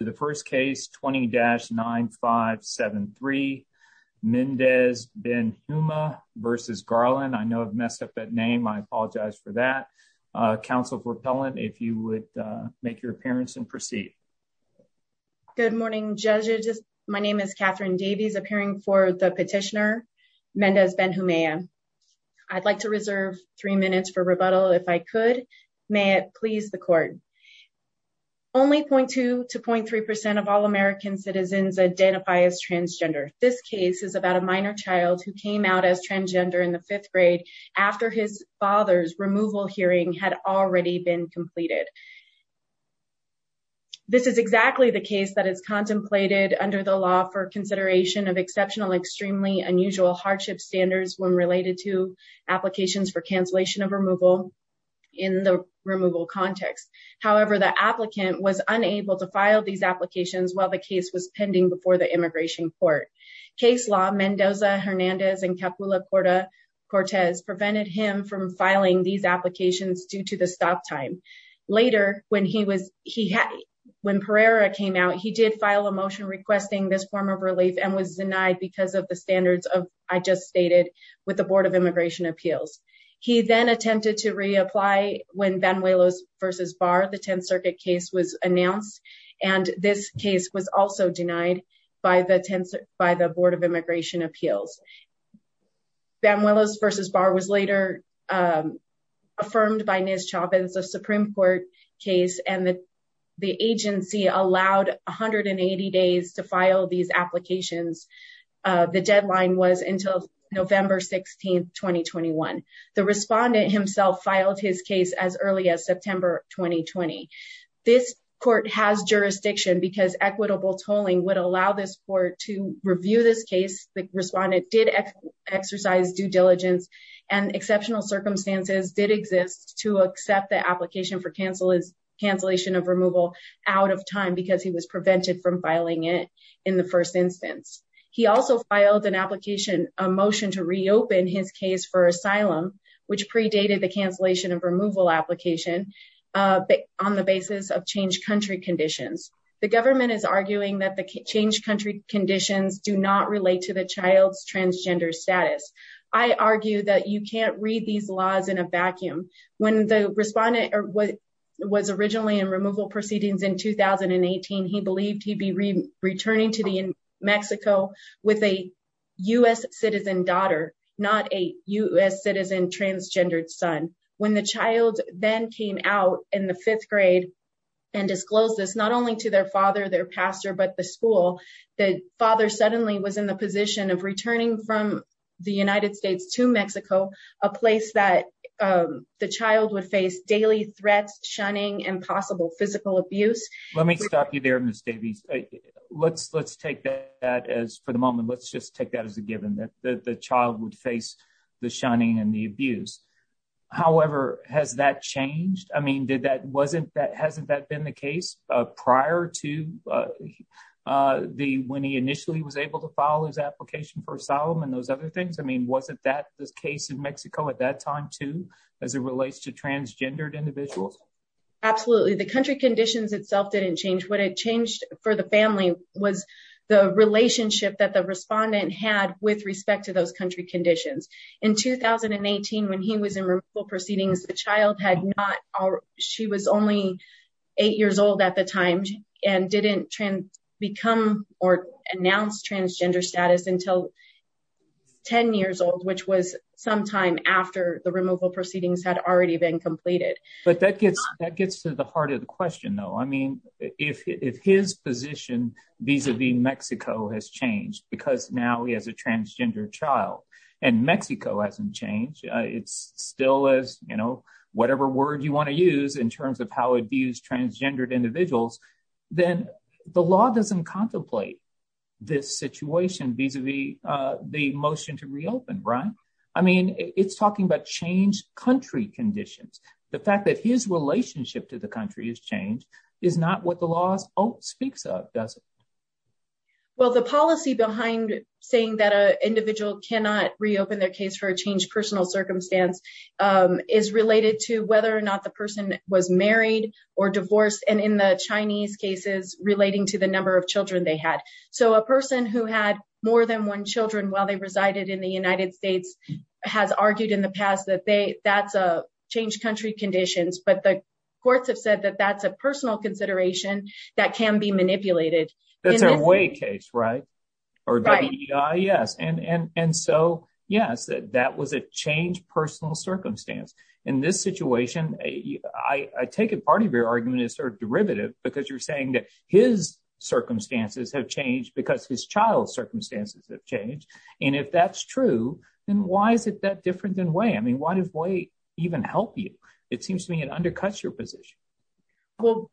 The first case 20-9573, Mendez-Benhumea v. Garland. I know I've messed up that name. I apologize for that. Counsel Propellant, if you would make your appearance and proceed. Good morning judges. My name is Catherine Davies appearing for the petitioner Mendez-Benhumea. I'd like to reserve three minutes for rebuttal if I could. May it please the court. Only point to point three percent of all American citizens identify as transgender. This case is about a minor child who came out as transgender in the fifth grade after his father's removal hearing had already been completed. This is exactly the case that is contemplated under the law for consideration of exceptional extremely unusual hardship standards when related to applications for cancellation of removal in the removal context. However, the applicant was unable to file these applications while the case was pending before the immigration court. Case law Mendoza-Hernandez and Capilla-Cortez prevented him from filing these applications due to the stop time. Later when he was he had when Pereira came out he did file a motion requesting this form of relief and was denied because of the standards of I just stated with Board of Immigration Appeals. He then attempted to reapply when Banuelos versus Barr the 10th Circuit case was announced and this case was also denied by the 10th by the Board of Immigration Appeals. Banuelos versus Barr was later affirmed by Nez Chavez a Supreme Court case and the agency allowed 180 days to file these applications. The deadline was until November 16, 2021. The respondent himself filed his case as early as September 2020. This court has jurisdiction because equitable tolling would allow this court to review this case. The respondent did exercise due diligence and exceptional circumstances did exist to accept the application for cancellation of removal out of time because he was prevented from filing it in the first instance. He also filed an application a motion to reopen his case for asylum which predated the cancellation of removal application on the basis of changed country conditions. The government is arguing that the changed country conditions do not relate to the child's transgender status. I argue that you can't read these laws in a vacuum. When the respondent was originally in removal proceedings in 2018, he believed he'd be returning to Mexico with a U.S. citizen daughter, not a U.S. citizen transgendered son. When the child then came out in the fifth grade and disclosed this not only to their father, their pastor, but the school, the father suddenly was in the position of returning from the United States to Mexico, a place that the child would face daily threats, shunning, and possible physical abuse. Let me stop you there Ms. Davies. Let's take that as for the moment. Let's just take that as a given that the child would face the shunning and the abuse. However, has that changed? I mean, hasn't that been the case prior to when he initially was able to file his application for asylum and those other things? I mean, wasn't that the case in Mexico at that time too as it relates to transgendered individuals? Absolutely. The country conditions itself didn't change. What had changed for the family was the relationship that the respondent had with respect to those country conditions. In 2018, when he was in removal proceedings, the child had not, she was only eight years old at the time and didn't become or announce transgender status until 10 years old, which was sometime after the removal proceedings had already been completed. But that gets to the heart of the question though. I mean, if his position vis-a-vis Mexico has changed because now he has a transgender child and Mexico hasn't changed, it's still as, you know, whatever word you want to use in terms of how it views transgendered individuals, then the law doesn't contemplate this situation vis-a-vis the motion to reopen, right? I mean, it's talking about changed country conditions. The fact that his relationship to the country has changed is not what the law speaks of, does it? Well, the policy behind saying that an individual cannot reopen their case for a changed personal circumstance is related to whether or not the person was married or divorced, and in the Chinese cases, relating to the number of children they had. So a person who had more than one children while they resided in the United States has argued in the past that that's a changed country conditions, but the courts have said that that's a personal consideration that can be manipulated. That's a Wei case, right? Yes, and so yes, that was a changed personal circumstance. In this situation, I take it part of your argument is sort of derivative because you're saying that his circumstances have changed because his child's circumstances have changed, and if that's true, then why is it that different than Wei? I mean, why does Wei even help you? It seems to me it undercuts your position. Well,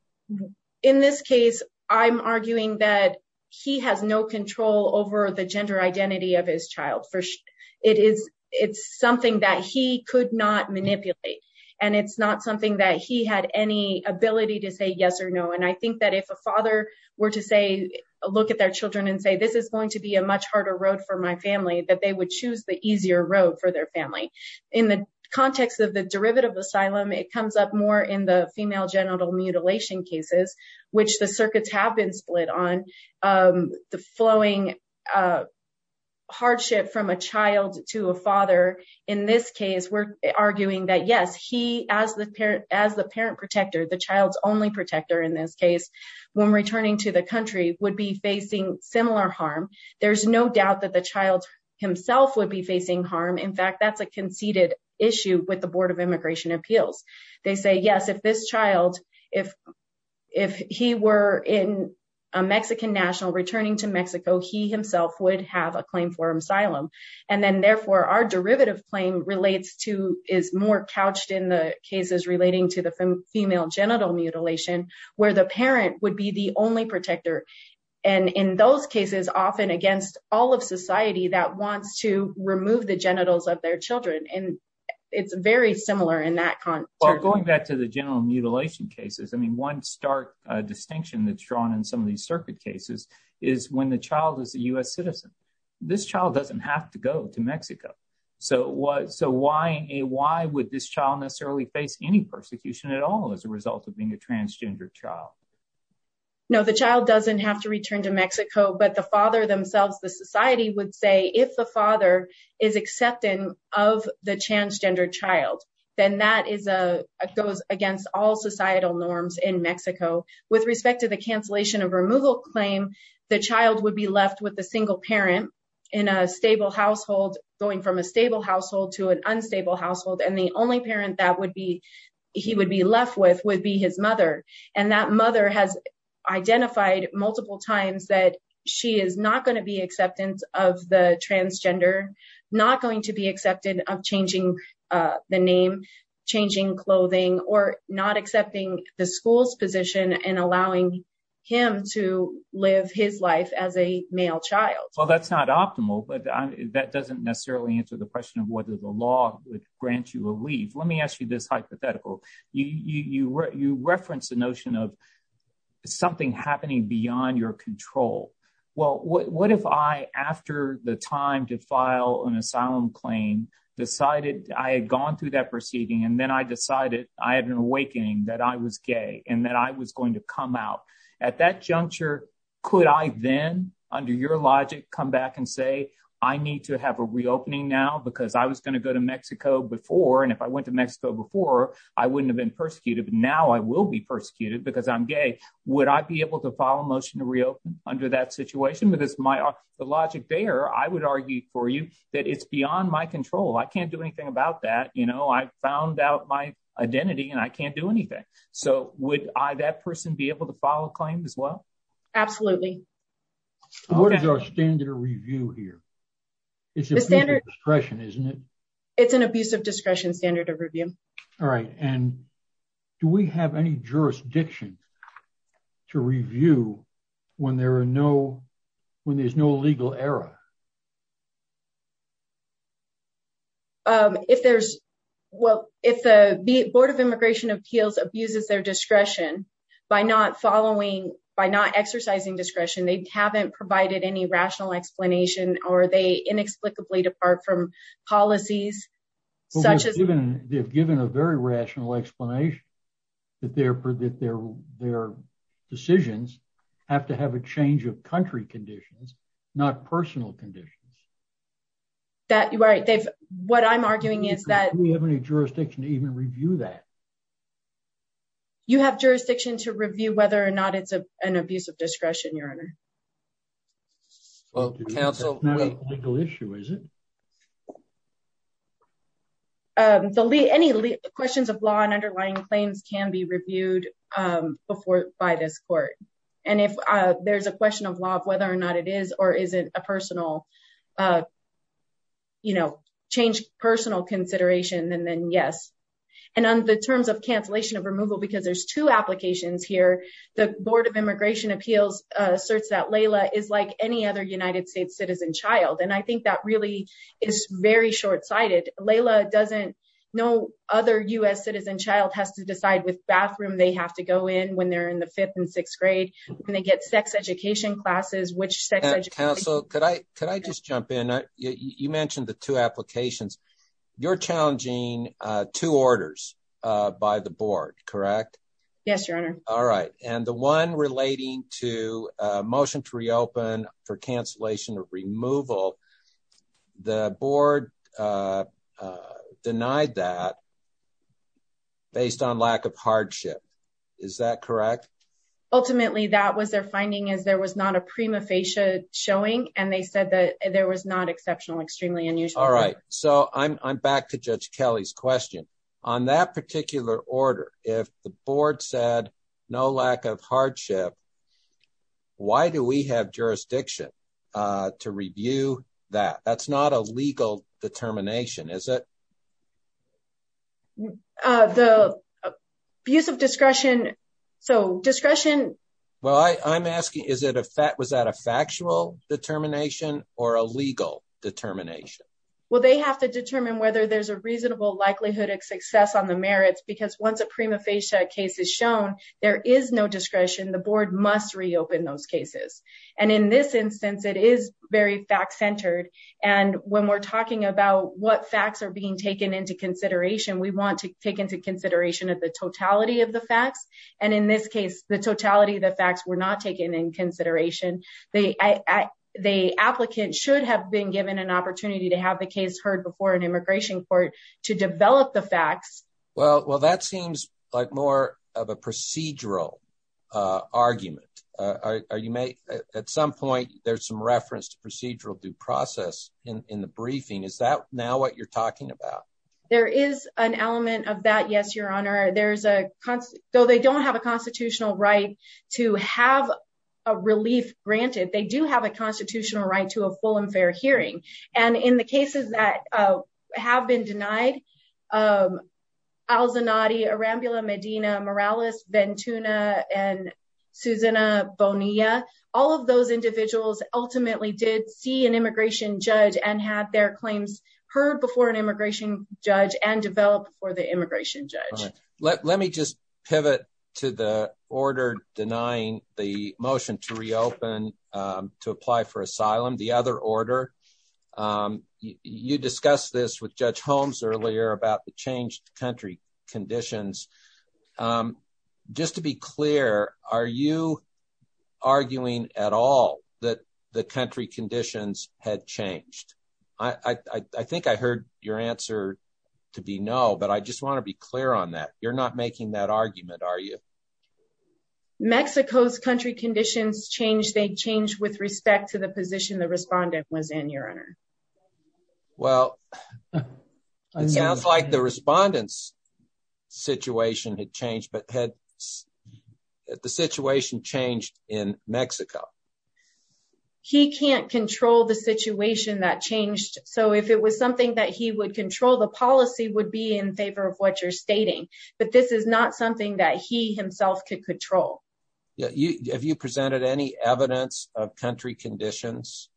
in this case, I'm arguing that he has no control over the gender identity of his child. It's something that he could not manipulate, and it's not something that he had any ability to say yes or no, and I think that if a father were to say, look at their children and say, this is going to be a much harder road for my family, that they would choose the easier road for their family. In the context of the derivative asylum, it comes up more in the female genital mutilation cases, which the circuits have been split on, the flowing hardship from a child to a father. In this case, we're arguing that yes, he, as the parent protector, the child's only protector in this case, when returning to the himself would be facing harm. In fact, that's a conceded issue with the Board of Immigration Appeals. They say, yes, if this child, if he were in a Mexican national returning to Mexico, he himself would have a claim for asylum, and then therefore, our derivative claim relates to, is more couched in the cases relating to the female genital mutilation, where the parent would the only protector, and in those cases, often against all of society that wants to remove the genitals of their children, and it's very similar in that context. Well, going back to the genital mutilation cases, I mean, one stark distinction that's drawn in some of these circuit cases is when the child is a U.S. citizen, this child doesn't have to go to Mexico. So why would this child necessarily face any persecution at all as a result of being a transgender child? No, the child doesn't have to return to Mexico, but the father themselves, the society would say, if the father is accepting of the transgender child, then that goes against all societal norms in Mexico. With respect to the cancellation of removal claim, the child would be left with a single parent in a stable household, going from a stable household to an unstable household, and the only parent that would be, he would be left with, would be his mother, and that mother has identified multiple times that she is not going to be acceptance of the transgender, not going to be accepted of changing the name, changing clothing, or not accepting the school's position in allowing him to live his life as a male child. Well, that's not optimal, but that doesn't necessarily answer the question of whether the law would grant you a leave. Let me ask you this hypothetical. You reference the notion of something happening beyond your control. Well, what if I, after the time to file an asylum claim, decided I had gone through that proceeding, and then I decided I had an awakening that I was gay, and that I was going to come out. At that juncture, could I then, under your logic, come back and say, I need to have a reopening now because I was going to go to Mexico before, and if I went to Mexico before, I wouldn't have been persecuted, but now I will be persecuted because I'm gay. Would I be able to file a motion to reopen under that situation? Because my, the logic there, I would argue for you, that it's beyond my control. I can't do anything about that. You know, I found out my identity, and I can't do anything. So, would I, that person, be able to file a claim as well? Absolutely. What is our standard of review here? It's a standard discretion, isn't it? It's an abusive discretion standard of review. All right, and do we have any jurisdiction to review when there are no, when there's no legal error? If there's, well, if the Board of Immigration Appeals abuses their discretion by not following, by not exercising discretion, they haven't provided any rational explanation, or they inexplicably depart from policies, such as... They've given a very rational explanation that their decisions have to have a change of country conditions, not personal conditions. That, right, they've, what I'm arguing is that... Do we have any jurisdiction to even review that? You have jurisdiction to review whether or not it's an abusive discretion, Your Honor. Well, counsel... It's not a legal issue, is it? No. Any questions of law and underlying claims can be reviewed before, by this court. And if there's a question of law of whether or not it is or isn't a personal, you know, change personal consideration, then yes. And on the terms of cancellation of removal, because there's two applications here, the Board of Immigration Appeals asserts that Layla is like any other United States citizen child. And I think that really is very short-sighted. Layla doesn't... No other U.S. citizen child has to decide which bathroom they have to go in when they're in the fifth and sixth grade, when they get sex education classes, which sex education... Counsel, could I just jump in? You mentioned the two applications. You're challenging two orders by the Board, correct? Yes, Your Honor. All right. And the one relating to a motion to reopen for cancellation of removal, the board denied that based on lack of hardship. Is that correct? Ultimately, that was their finding, is there was not a prima facie showing, and they said that there was not exceptional, extremely unusual... All right. So, I'm back to Judge Kelly's question. On that particular order, if the board said no lack of hardship, why do we have jurisdiction to review that? That's not a legal determination, is it? The use of discretion... So, discretion... Well, I'm asking, was that a factual determination or a legal determination? Well, they have to determine whether there's a reasonable likelihood of success on the merits, because once a prima facie case is shown, there is no discretion. The board must reopen those cases. And in this instance, it is very fact-centered. And when we're talking about what facts are being taken into consideration, we want to take into consideration of the totality of the facts. And in this case, the totality of the facts were not taken in consideration. The applicant should have been given an opportunity to have the case heard before an immigration court to develop the facts. Well, that seems like more of a procedural argument. At some point, there's some reference to procedural due process in the briefing. Is that now what you're talking about? There is an element of that, yes, Your Honor. Though they don't have a constitutional right to have a relief granted, they do have a constitutional right to a full and fair hearing. And in the cases that have been denied, Al-Zanati, Arambula, Medina, Morales, Ventuna, and Susana Bonilla, all of those individuals ultimately did see an immigration judge and had their claims heard before an immigration judge. Let me just pivot to the order denying the motion to reopen, to apply for asylum, the other order. You discussed this with Judge Holmes earlier about the changed country conditions. Just to be clear, are you arguing at all that the country conditions had changed? I think I heard your answer to be no, but I just want to be clear on that. You're not making that argument, are you? Mexico's country conditions changed. They changed with respect to the position the respondent was in, Your Honor. Well, it sounds like the respondent's situation had changed, but had the situation changed in Mexico? He can't control the situation that changed, so if it was something that he would control, the policy would be in favor of what you're stating. But this is not something that he himself could control. Have you presented any evidence of country conditions?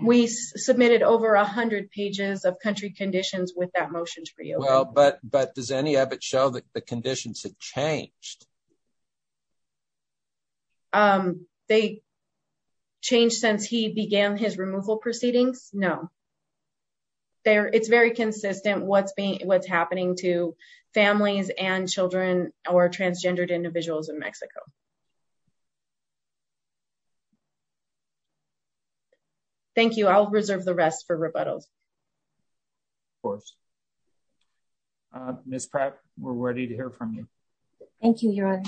We submitted over a hundred pages of country conditions with that motion to reopen. But does any of it show that conditions had changed? They changed since he began his removal proceedings? No. It's very consistent what's happening to families and children or transgendered individuals in Mexico. Thank you. I'll reserve the rest for rebuttals. Of course. Ms. Pratt, we're ready to hear from you. Thank you, Your Honor.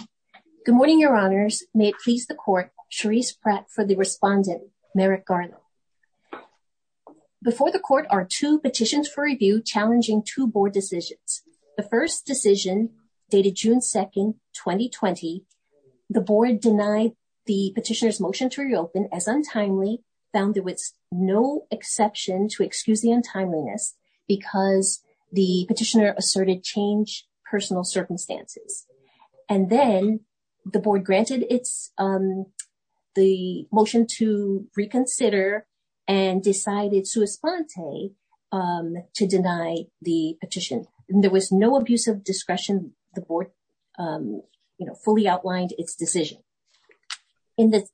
Good morning, Your Honors. May it please the Court, Charisse Pratt for the respondent, Merrick Garlow. Before the Court are two petitions for review challenging two Board decisions. The first decision, dated June 2, 2020, the Board denied the petitioner's motion to reopen as untimely, found there was no exception to excuse the untimeliness because the petitioner asserted change personal circumstances. And then the Board granted the motion to reconsider and decided sui sponte to deny the petition. There was no abuse of discretion. The Board fully outlined its decision. With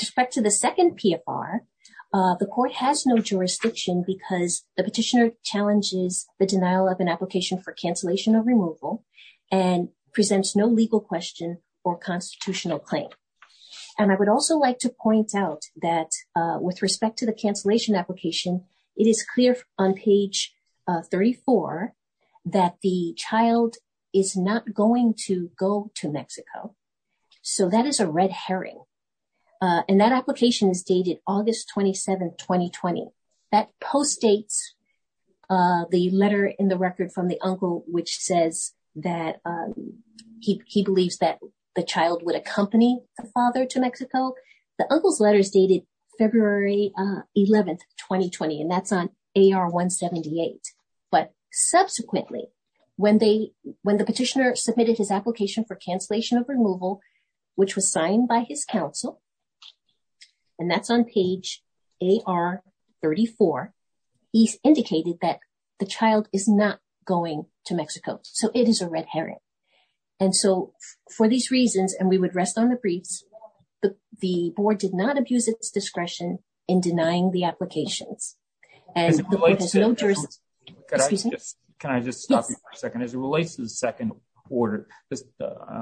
respect to the second PFR, the Court has no jurisdiction because the petitioner challenges the denial of an application for cancellation or removal and presents no legal question or constitutional claim. And I would also like to point out that with respect to the cancellation application, it is clear on page 34 that the child is not going to go to Mexico. So that is a red herring. And that application is dated August 27, 2020. That postdates the letter in the record from the uncle, which says that he believes that the child would accompany the father to Mexico. The uncle's letter is dated February 11, 2020, and that's on AR 178. But subsequently, when the petitioner submitted his application for cancellation of removal, which was signed by his counsel, and that's on page AR 34, he's indicated that the child is not going to Mexico. So it is a red herring. And so for these reasons, and we would rest on the briefs, the Board did not abuse its discretion in denying the applications. And the Board has no jurisdiction. Can I just stop you for a second? As it relates to the second order,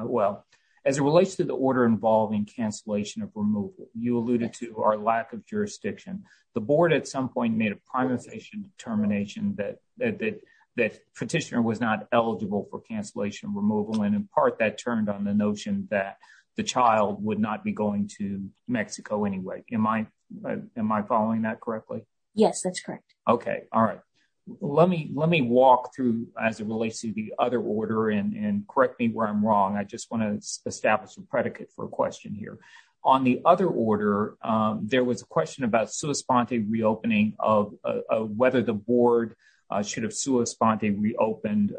well, as it relates to the order involving cancellation of removal, you alluded to our lack of jurisdiction. The Board at some point made a prioritization determination that petitioner was not eligible for cancellation removal. And in part, that turned on the notion that the child would not be going to Mexico anyway. Am I following that correctly? Yes, that's correct. Okay. All right. Let me walk through, as it relates to the other order, and correct me where I'm wrong. I just want to establish a predicate for a question here. On the other order, there was a question about sui sponte reopening of whether the Board should have sui sponte reopened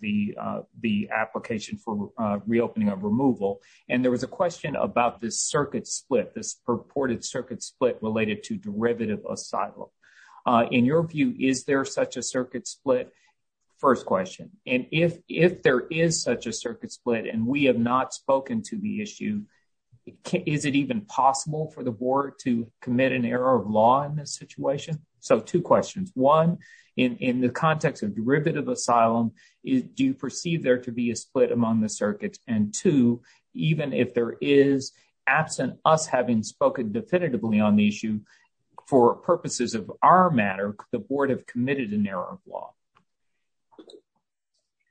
the application for reopening of removal. And there was a question about this circuit split, this purported circuit split related to derivative asylum. In your view, is there such a circuit split? First question. And if there is such a circuit split and we have not spoken to the issue, is it even possible for the Board to commit an error of law in this situation? So two questions. One, in the context of derivative asylum, do you perceive there to be a absence of us having spoken definitively on the issue for purposes of our matter, the Board have committed an error of law?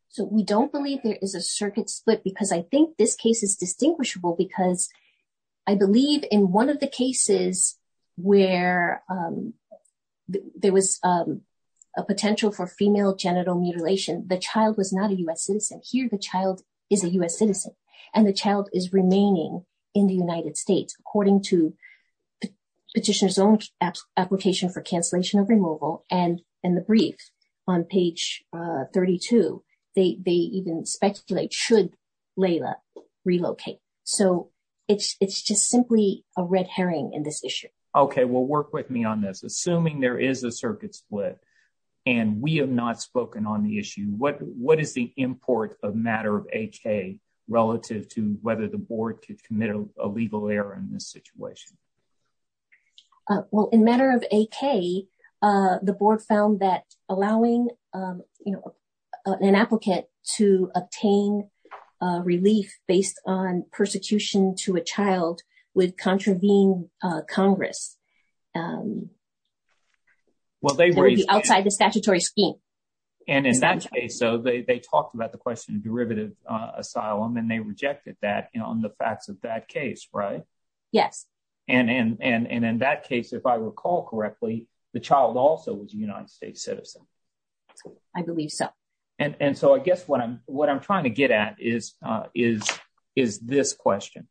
So we don't believe there is a circuit split because I think this case is distinguishable because I believe in one of the cases where there was a potential for female genital mutilation, the child was not a U.S. citizen. Here, the child is a U.S. citizen. And the child is remaining in the United States according to petitioner's own application for cancellation of removal. And in the brief on page 32, they even speculate should Laila relocate. So it's just simply a red herring in this issue. Okay. Well, work with me on this. Assuming there is a circuit split and we have not spoken on the issue, what is the import of matter of AK relative to whether the legal error in this situation? Well, in matter of AK, the Board found that allowing an applicant to obtain relief based on persecution to a child would contravene Congress. Well, they were outside the statutory scheme. And in that case, so they talked about the question of derivative asylum and they rejected that on the facts of that case, right? Yes. And in that case, if I recall correctly, the child also was a United States citizen. I believe so. And so I guess what I'm trying to get at is this question.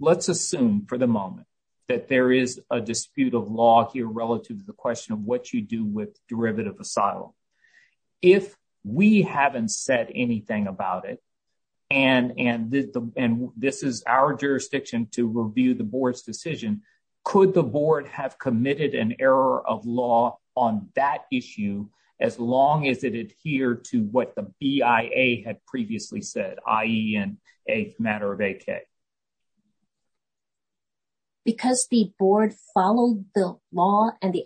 Let's assume for the moment that there is a dispute of law here relative to the question of what you do with derivative asylum. If we haven't said anything about it and this is our jurisdiction to review the Board's decision, could the Board have committed an error of law on that issue as long as it adhered to what the BIA had previously said, i.e. in a matter of AK? Because the Board followed the law and the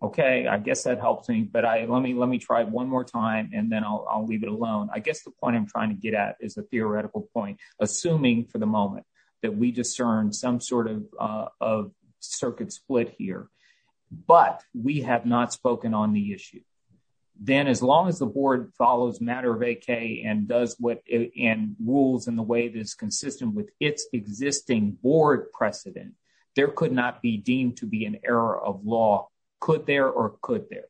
OK, I guess that helps me. But let me try it one more time and then I'll leave it alone. I guess the point I'm trying to get at is a theoretical point, assuming for the moment that we discern some sort of circuit split here. But we have not spoken on the issue. Then as long as the Board follows matter of AK and does what and rules in the way that is consistent with its existing Board precedent, there could not be deemed to be an error of law. Could there or could there?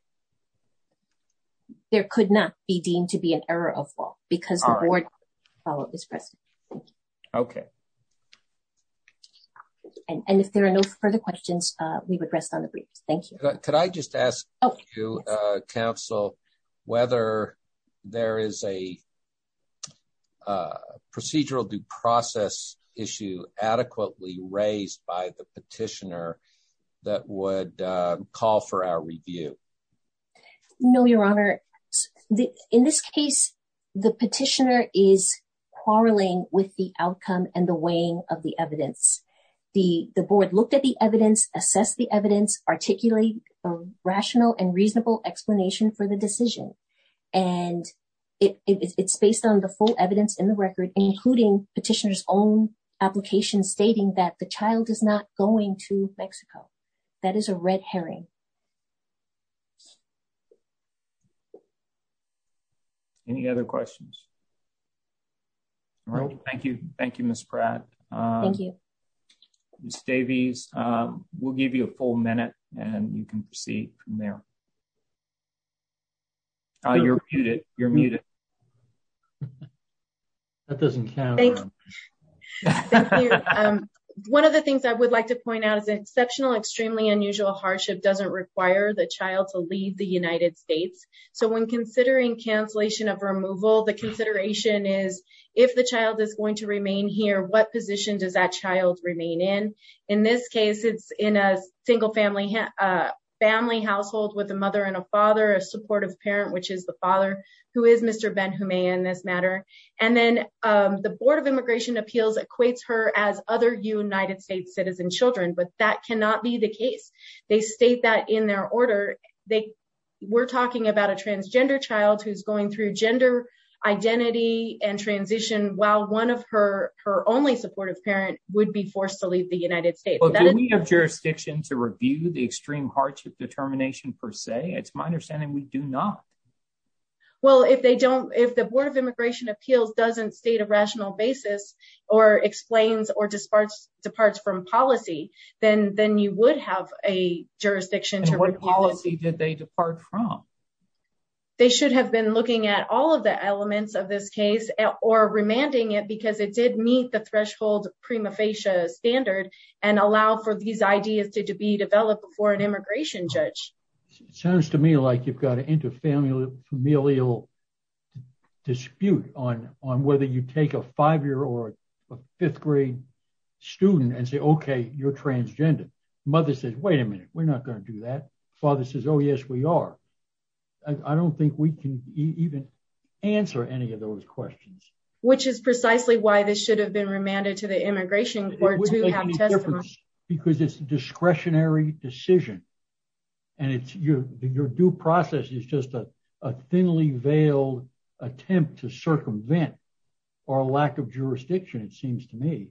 There could not be deemed to be an error of law because the Board followed this precedent. OK. And if there are no further questions, we would rest on the briefs. Thank you. Could I just ask you, Counsel, whether there is a procedural due process issue adequately raised by the petitioner that would call for our review? No, Your Honor. In this case, the petitioner is quarreling with the outcome and the weighing of the evidence. The Board looked at the evidence, assessed the evidence, articulated a rational and reasonable explanation for the decision. And it's based on the full evidence in the record, including petitioner's own application stating that the child is not going to Mexico. That is a red herring. Any other questions? No. Thank you. Thank you, Ms. Pratt. Thank you. Ms. Davies, we'll give you a full minute and you can proceed from there. You're muted. That doesn't count. One of the things I would like to point out is exceptional, extremely unusual hardship doesn't require the child to leave the United States. So when considering cancellation of removal, the consideration is if the child is going to remain here, what position does that child remain in? In this case, it's in a single family household with a mother and a father, a supportive parent, which is the father, who is Mr. Benjumea in this matter. And then the Board of Immigration Appeals equates her as other United States citizen children, but that cannot be the case. They state that in their order. We're talking about a transgender child who's going through gender identity and transition while one of her only supportive parents would be forced to leave the United States. Do we have jurisdiction to review the extreme hardship determination per se? It's my understanding we do not. Well, if they don't, if the Board of Immigration Appeals doesn't state a rational basis or explains or departs from policy, then you would have a they should have been looking at all of the elements of this case or remanding it because it did meet the threshold prima facie standard and allow for these ideas to be developed before an immigration judge. It sounds to me like you've got an inter-familial dispute on whether you take a five-year or a fifth-grade student and say, okay, you're transgender. Mother says, wait a minute, we're not going to do that. Father says, oh, yes, we are. I don't think we can even answer any of those questions. Which is precisely why this should have been remanded to the Immigration Court to have testimony. Because it's a discretionary decision and it's your due process is just a thinly veiled attempt to circumvent our lack of jurisdiction, it seems to me.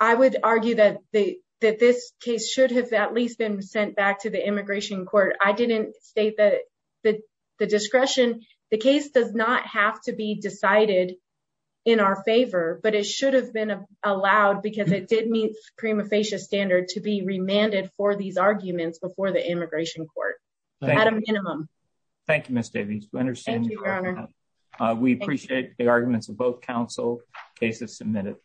I would argue that this case should have at least been sent back to the Immigration Court. I didn't state that the discretion, the case does not have to be decided in our favor, but it should have been allowed because it did meet prima facie standard to be remanded for these arguments before the Immigration Court. At a minimum. Thank you, Ms. Davies. We appreciate the arguments of counsel. Case is submitted.